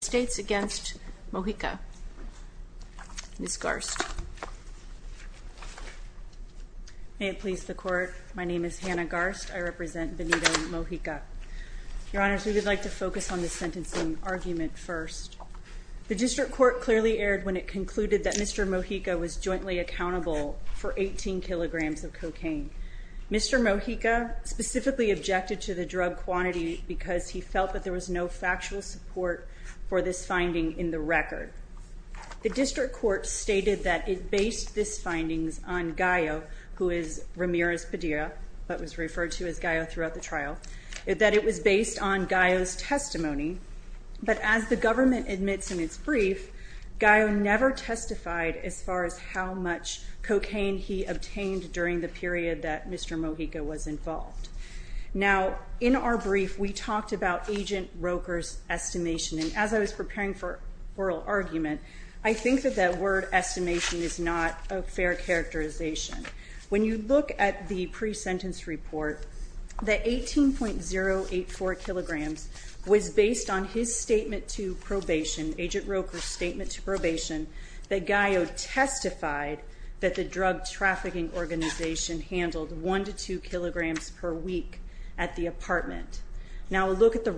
States against Mojica. Ms. Garst. May it please the Court, my name is Hannah Garst. I represent Benito Mojica. Your Honors, we would like to focus on the sentencing argument first. The District Court clearly erred when it concluded that Mr. Mojica was jointly accountable for 18 kilograms of cocaine. Mr. Mojica specifically objected to the drug quantity because he felt that there was no factual support for this finding in the record. The District Court stated that it based this findings on Gayo, who is Ramirez Padilla, but was referred to as Gayo throughout the trial, that it was based on Gayo's testimony. But as the government admits in its brief, Gayo never testified as far as how much cocaine he obtained during the period that Mr. Mojica obtained during the trial. The District Court said that it was based on Agent Roker's estimation. And as I was preparing for oral argument, I think that that word estimation is not a fair characterization. When you look at the pre-sentence report, the 18.084 kilograms was based on his statement to probation, Agent Roker's statement to probation, that Gayo testified that the drug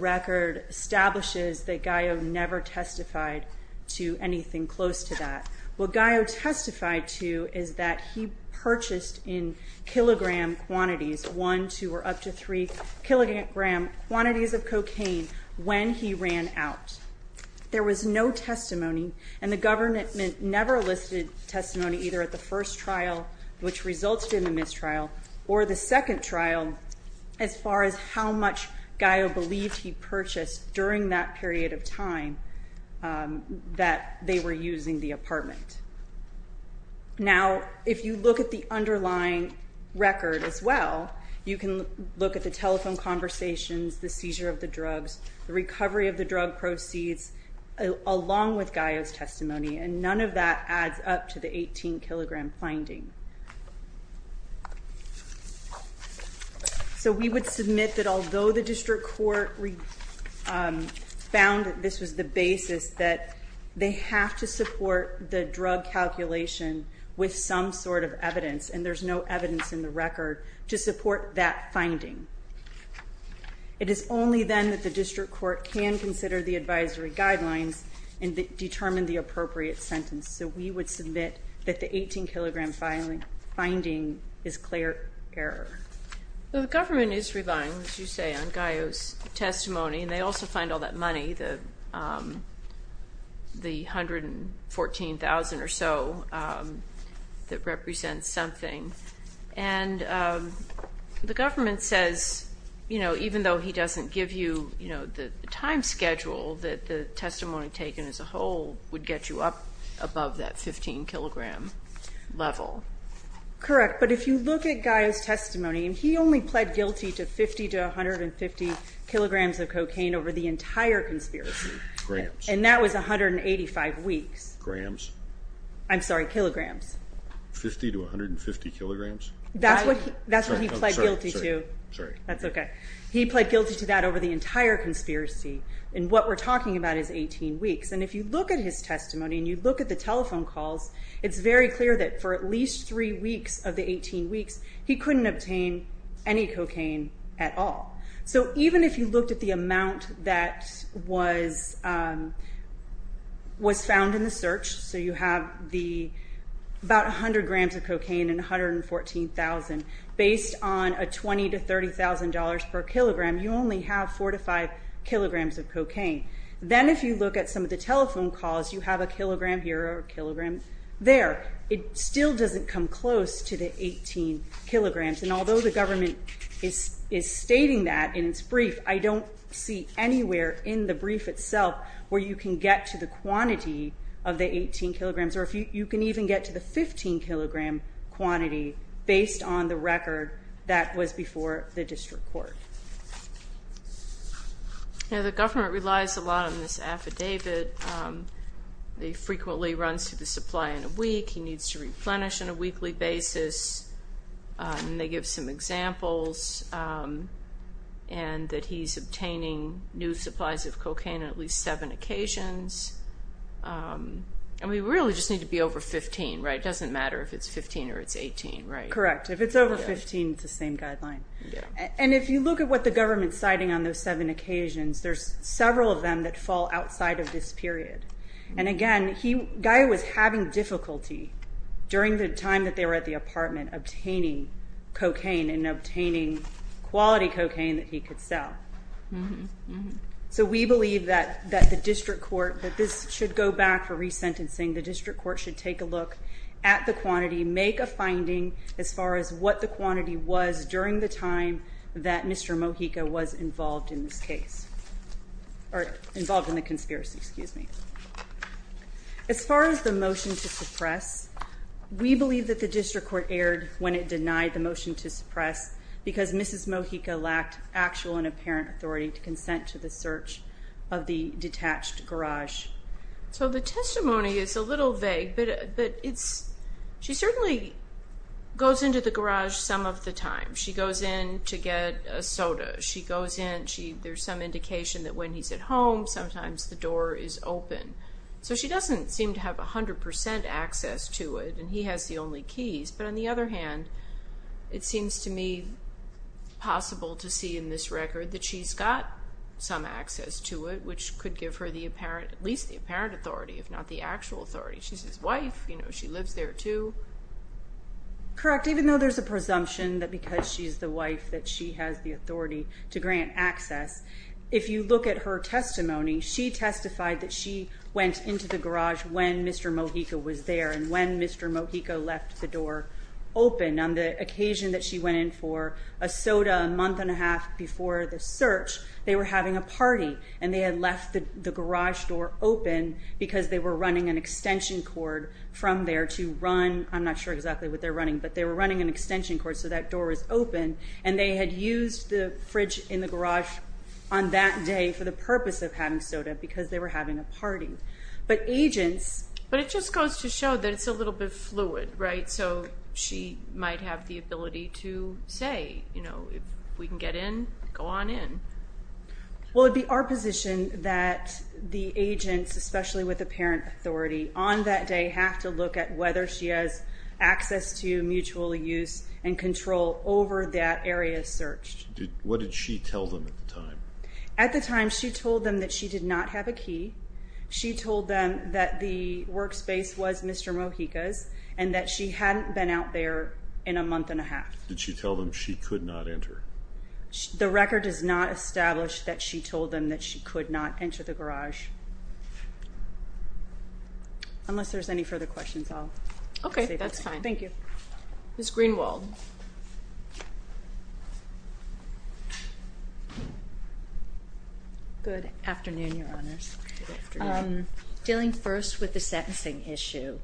record establishes that Gayo never testified to anything close to that. What Gayo testified to is that he purchased in kilogram quantities, one, two, or up to three kilogram quantities of cocaine when he ran out. There was no testimony, and the government never listed testimony either at the first trial, which resulted in the mistrial, or the second trial as far as how much Gayo believed he purchased during that period of time that they were using the apartment. Now, if you look at the underlying record as well, you can look at the telephone conversations, the seizure of the drugs, the recovery of the drug proceeds, along with Gayo's testimony, and none of that adds up to the 18-kilogram finding. So we would submit that although the district court found that this was the basis, that they have to support the drug calculation with some sort of evidence, and there's no evidence in the record to support that finding. It is only then that the district court can consider the advisory guidelines and determine the 15-kilogram finding is clear error. Well, the government is relying, as you say, on Gayo's testimony, and they also find all that money, the $114,000 or so that represents something, and the government says even though he doesn't give you the time Correct, but if you look at Gayo's testimony, and he only pled guilty to 50 to 150 kilograms of cocaine over the entire conspiracy, and that was 185 weeks. Grams? I'm sorry, kilograms. 50 to 150 kilograms? That's what he pled guilty to. Sorry. That's okay. He pled guilty to that over the entire conspiracy, and what we're talking about is 18 weeks. And if you look at his testimony, and you look at the telephone calls, it's very clear that for at least three weeks of the 18 weeks, he couldn't obtain any cocaine at all. So even if you looked at the amount that was found in the search, so you have about 100 grams of cocaine and $114,000, based on a $20,000 to $30,000 per kilogram, you only have 4 to 5 kilograms of cocaine. Then if you look at some of the telephone calls, you have a kilogram here or a kilogram there. It still doesn't come close to the 18 kilograms, and although the government is stating that in its brief, I don't see anywhere in the brief itself where you can get to the quantity of the 18 kilograms, or you can even get to the 15 kilogram quantity based on the record that was before the district court. Now, the government relies a lot on this affidavit. They frequently run through the supply in a week. He needs to replenish on a weekly basis, and they give some examples, and that he's obtaining new supplies of cocaine at least seven occasions. And we really just need to be over 15, right? It doesn't matter if it's 15 or it's 18, right? Correct. If it's over 15, it's the same guideline. And if you look at what the government's citing on those seven occasions, there's several of them that fall outside of this period. And again, Guy was having difficulty during the time that they were at the apartment obtaining cocaine and obtaining quality cocaine that he could sell. So we believe that the district court, that this should go back for resentencing. The district court should take a look at the quantity, make a finding as far as what the quantity was during the time that Mr. Mojica was involved in this case, or involved in the conspiracy. Excuse me. As far as the motion to suppress, we believe that the district court erred when it denied the motion to suppress because Mrs. Mojica lacked actual and apparent authority to consent to the search of the detached garage. So the testimony is a little vague, but she certainly goes into the garage some of the time. She goes in to get a soda. There's some indication that when he's at home, sometimes the door is open. So she doesn't seem to have 100% access to it, and he has the only keys. But on the other hand, it seems to me possible to see in this record that she's got some access to it, which could give her at least the apparent authority, if not the actual authority. She's his wife. She lives there too. Correct. Even though there's a presumption that because she's the wife that she has the authority to grant access, if you look at her testimony, she testified that she went into the garage when Mr. Mojica was there and when Mr. Mojica left the door open on the occasion that she went in for a soda a month and a half before the search. They were having a party, and they had left the garage door open because they were running an extension cord from there to run. I'm not sure exactly what they're running, but they were running an extension cord so that door was open, and they had used the fridge in the garage on that day for the purpose of having soda because they were having a party. But agents... But it just goes to show that it's a little bit fluid, right? So she might have the ability to say, you know, if we can get in, go on in. Well, it would be our position that the agents, especially with apparent authority, on that day have to look at whether she has access to mutual use and control over that area of search. What did she tell them at the time? At the time, she told them that she did not have a key. She told them that the workspace was Mr. Mojica's and that she hadn't been out there in a month and a half. Did she tell them she could not enter? The record does not establish that she told them that she could not enter the garage. Unless there's any further questions, I'll... Okay, that's fine. Thank you. Ms. Greenwald. Good afternoon, Your Honors. Good afternoon. Dealing first with the sentencing issue,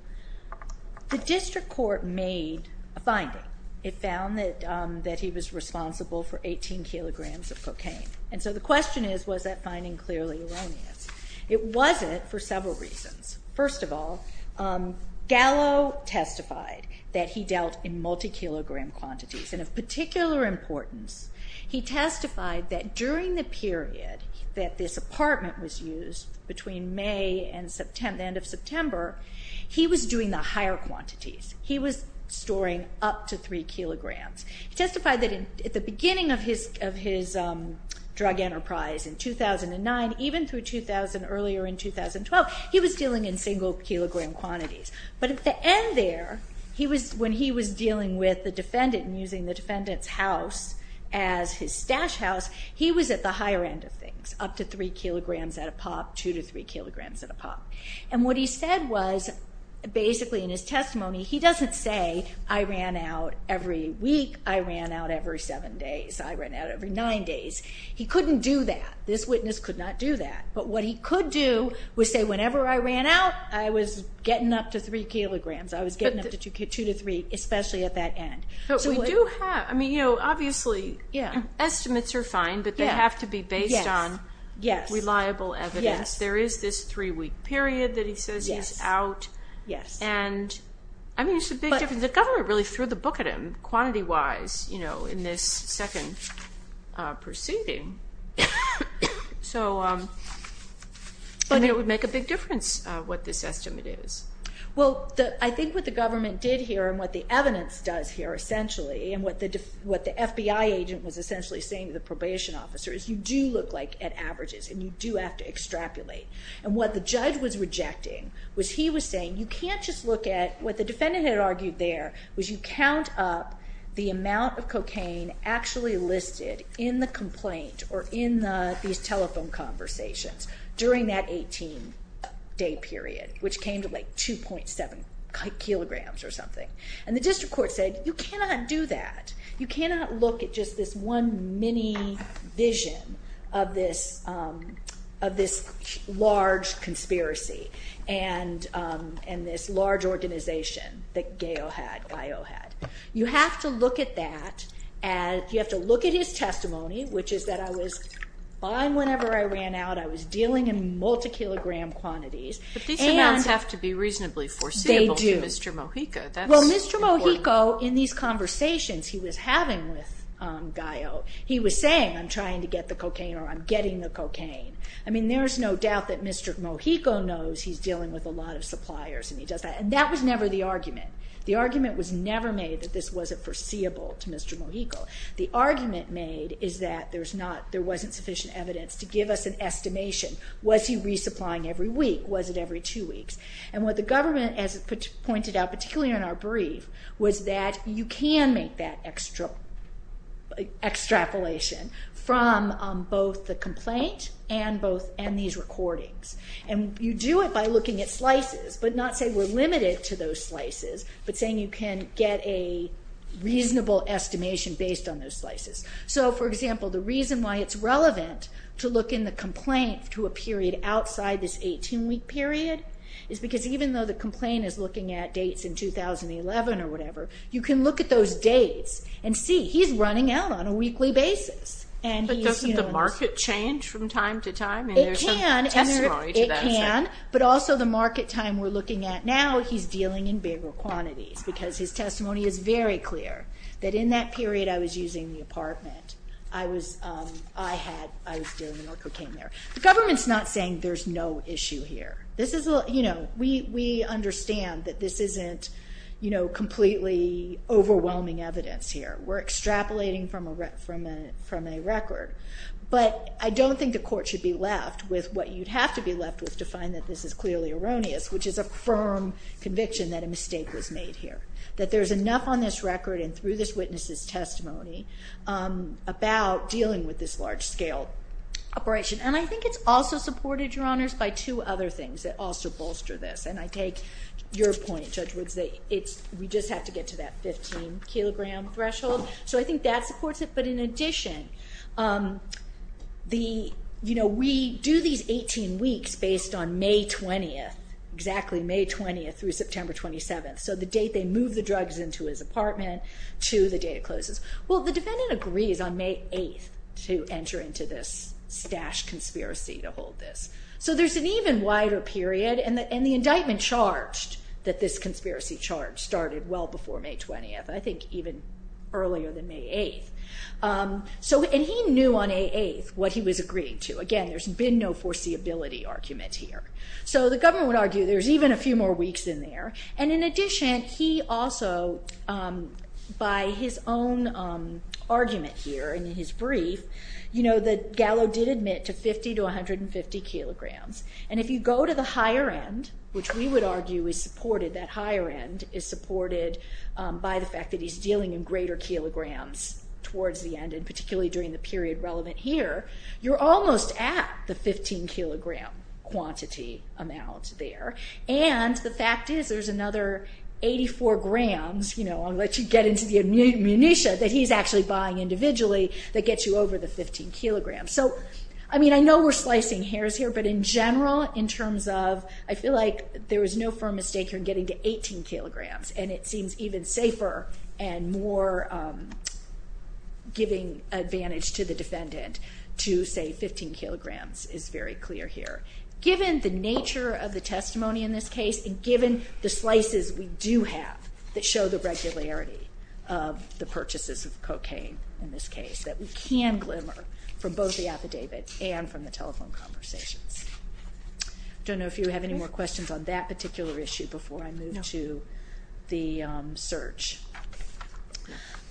the district court made a finding. It found that he was responsible for 18 kilograms of cocaine. And so the question is, was that finding clearly erroneous? It wasn't for several reasons. First of all, Gallo testified that he dealt in multi-kilogram quantities. And of particular importance, he testified that during the period that this apartment was used, between May and the end of September, he was doing the higher quantities. He was storing up to three kilograms. He testified that at the beginning of his drug enterprise in 2009, even through 2000, earlier in 2012, he was dealing in single-kilogram quantities. But at the end there, when he was dealing with the defendant and using the defendant's house as his stash house, he was at the higher end of things, up to three kilograms at a pop, two to three kilograms at a pop. And what he said was, basically in his testimony, he doesn't say, I ran out every week, I ran out every seven days, I ran out every nine days. He couldn't do that. This witness could not do that. But what he could do was say, whenever I ran out, I was getting up to three kilograms. I was getting up to two to three, especially at that end. But we do have, I mean, you know, obviously estimates are fine, but they have to be based on reliable evidence. There is this three-week period that he says he's out. And, I mean, it's a big difference. The government really threw the book at him, quantity-wise, you know, in this second proceeding. So, I mean, it would make a big difference what this estimate is. Well, I think what the government did here and what the evidence does here, essentially, and what the FBI agent was essentially saying to the probation officer, is you do look like at averages and you do have to extrapolate. And what the judge was rejecting was he was saying you can't just look at, what the defendant had argued there, was you count up the amount of cocaine actually listed in the complaint or in these telephone conversations during that 18-day period, which came to, like, 2.7 kilograms or something. And the district court said, you cannot do that. You cannot look at just this one mini-vision of this large conspiracy and this large organization that Gayo had. You have to look at that and you have to look at his testimony, which is that I was fine whenever I ran out. I was dealing in multi-kilogram quantities. But these amounts have to be reasonably foreseeable to Mr. Mojica. They do. That's important. Well, Mr. Mojica, in these conversations he was having with Gayo, I mean, there's no doubt that Mr. Mojica knows he's dealing with a lot of suppliers and he does that. And that was never the argument. The argument was never made that this wasn't foreseeable to Mr. Mojica. The argument made is that there wasn't sufficient evidence to give us an estimation. Was he resupplying every week? Was it every two weeks? And what the government has pointed out, particularly in our brief, was that you can make that extrapolation from both the complaint and these recordings. And you do it by looking at slices, but not saying we're limited to those slices, but saying you can get a reasonable estimation based on those slices. So, for example, the reason why it's relevant to look in the complaint to a period outside this 18-week period is because even though the complaint is looking at dates in 2011 or whatever, you can look at those dates and see. He's running out on a weekly basis. But doesn't the market change from time to time? It can, but also the market time we're looking at now, he's dealing in bigger quantities because his testimony is very clear that in that period I was using the apartment. I was dealing and the worker came there. The government's not saying there's no issue here. We understand that this isn't completely overwhelming evidence here. We're extrapolating from a record. But I don't think the court should be left with what you'd have to be left with to find that this is clearly erroneous, which is a firm conviction that a mistake was made here, that there's enough on this record and through this witness's testimony about dealing with this large-scale operation. And I think it's also supported, Your Honors, by two other things that also bolster this. And I take your point, Judge Woods, that we just have to get to that 15-kilogram threshold. So I think that supports it. But in addition, we do these 18 weeks based on May 20th, exactly May 20th through September 27th. So the date they move the drugs into his apartment to the date it closes. Well, the defendant agrees on May 8th to enter into this stashed conspiracy to hold this. So there's an even wider period. And the indictment charged that this conspiracy charge started well before May 20th, I think even earlier than May 8th. And he knew on May 8th what he was agreeing to. Again, there's been no foreseeability argument here. So the government would argue there's even a few more weeks in there. And in addition, he also, by his own argument here in his brief, the gallow did admit to 50 to 150 kilograms. And if you go to the higher end, which we would argue is supported, that higher end is supported by the fact that he's dealing in greater kilograms towards the end, and particularly during the period relevant here, you're almost at the 15-kilogram quantity amount there. And the fact is there's another 84 grams, you know, I'll let you get into the ammunition that he's actually buying individually, that gets you over the 15 kilograms. So, I mean, I know we're slicing hairs here, but in general, in terms of, I feel like there was no firm mistake here in getting to 18 kilograms. And it seems even safer and more giving advantage to the defendant to say 15 kilograms is very clear here. Given the nature of the testimony in this case, and given the slices we do have that show the regularity of the purchases of cocaine in this case, that we can glimmer from both the affidavit and from the telephone conversations. I don't know if you have any more questions on that particular issue before I move to the search.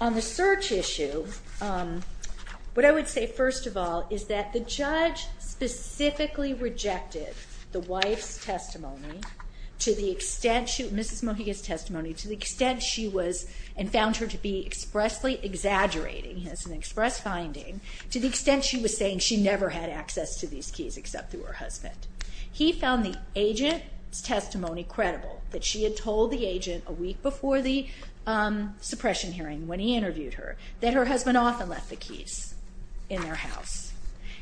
On the search issue, what I would say, first of all, is that the judge specifically rejected the wife's testimony to the extent she, Mrs. Mojica's testimony, to the extent she was, and found her to be expressly exaggerating as an express finding, to the extent she was saying she never had access to these keys except through her husband. He found the agent's testimony credible, that she had told the agent a week before the suppression hearing when he interviewed her, that her husband often left the keys in their house.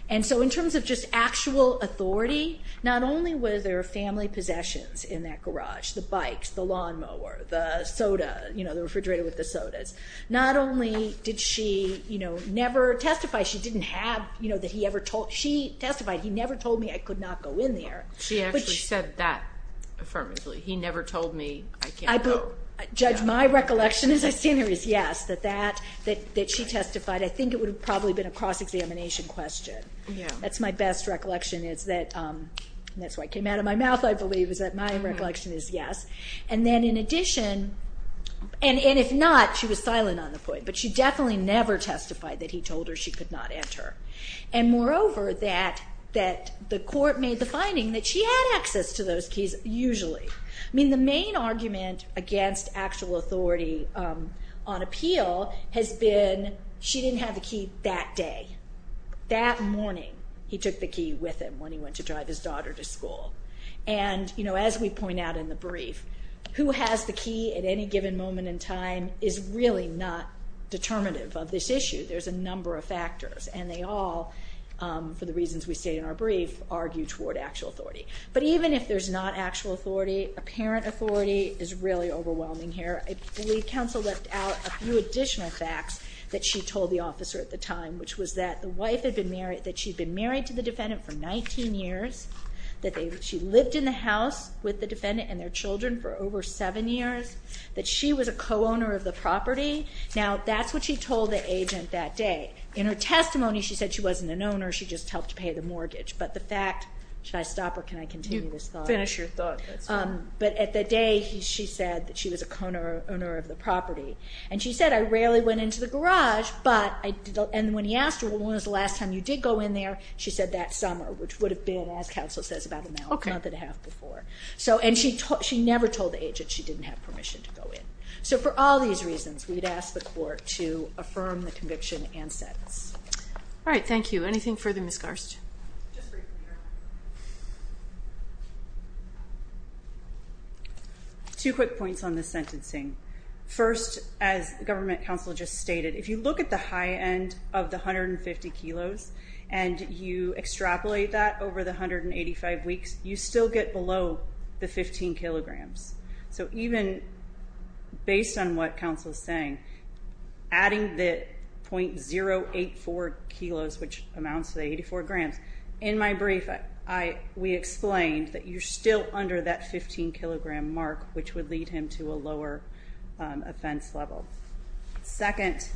And so in terms of just actual authority, not only were there family possessions in that garage, the bikes, the lawnmower, the soda, you know, the refrigerator with the sodas, not only did she, you know, never testify she didn't have, you know, that he ever told, she testified he never told me I could not go in there. She actually said that affirmatively. He never told me I can't go. So, Judge, my recollection as I stand here is yes, that that, that she testified. I think it would have probably been a cross-examination question. That's my best recollection is that, and that's what came out of my mouth I believe, is that my recollection is yes. And then in addition, and if not, she was silent on the point, but she definitely never testified that he told her she could not enter. And moreover, that the court made the finding that she had access to those keys usually. I mean, the main argument against actual authority on appeal has been she didn't have the key that day. That morning he took the key with him when he went to drive his daughter to school. And, you know, as we point out in the brief, who has the key at any given moment in time is really not determinative of this issue. There's a number of factors, and they all, for the reasons we state in our brief, argue toward actual authority. But even if there's not actual authority, apparent authority is really overwhelming here. I believe counsel left out a few additional facts that she told the officer at the time, which was that the wife had been married, that she'd been married to the defendant for 19 years, that she lived in the house with the defendant and their children for over seven years, that she was a co-owner of the property. Now, that's what she told the agent that day. In her testimony, she said she wasn't an owner, she just helped pay the mortgage. But the fact, should I stop or can I continue this thought? Finish your thought. But at the day she said that she was a co-owner of the property. And she said, I rarely went into the garage, and when he asked her when was the last time you did go in there, she said that summer, which would have been, as counsel says, about a month and a half before. And she never told the agent she didn't have permission to go in. So for all these reasons, we'd ask the court to affirm the conviction and sentence. All right. Thank you. Anything further, Ms. Garst? Two quick points on the sentencing. First, as government counsel just stated, if you look at the high end of the 150 kilos and you extrapolate that over the 185 weeks, you still get below the 15 kilograms. So even based on what counsel is saying, adding the .084 kilos, which amounts to 84 grams, in my brief we explained that you're still under that 15-kilogram mark, which would lead him to a lower offense level. Second,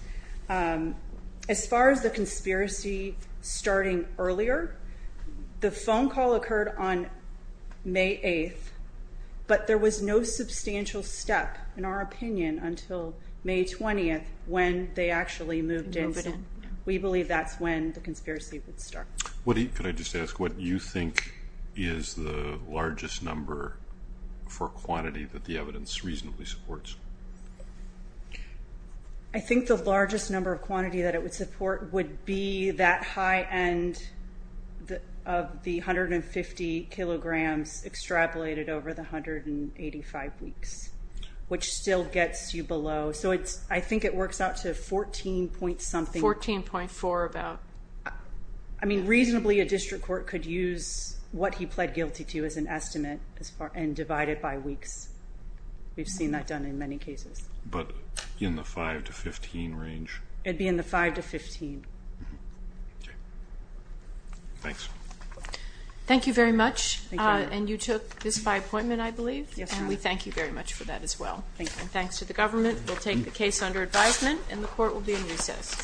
as far as the conspiracy starting earlier, the phone call occurred on May 8th, but there was no substantial step, in our opinion, until May 20th when they actually moved in. So we believe that's when the conspiracy would start. Could I just ask what you think is the largest number for quantity that the evidence reasonably supports? I think the largest number of quantity that it would support would be that high end of the 150 kilograms extrapolated over the 185 weeks, which still gets you below. So I think it works out to 14-point-something. 14.4, about. I mean, reasonably a district court could use what he pled guilty to as an estimate and divide it by weeks. We've seen that done in many cases. But in the 5 to 15 range? It would be in the 5 to 15. Okay. Thanks. Thank you very much. Thank you. And you took this by appointment, I believe? Yes, ma'am. And we thank you very much for that as well. Thank you. And thanks to the government. We'll take the case under advisement, and the court will be in recess.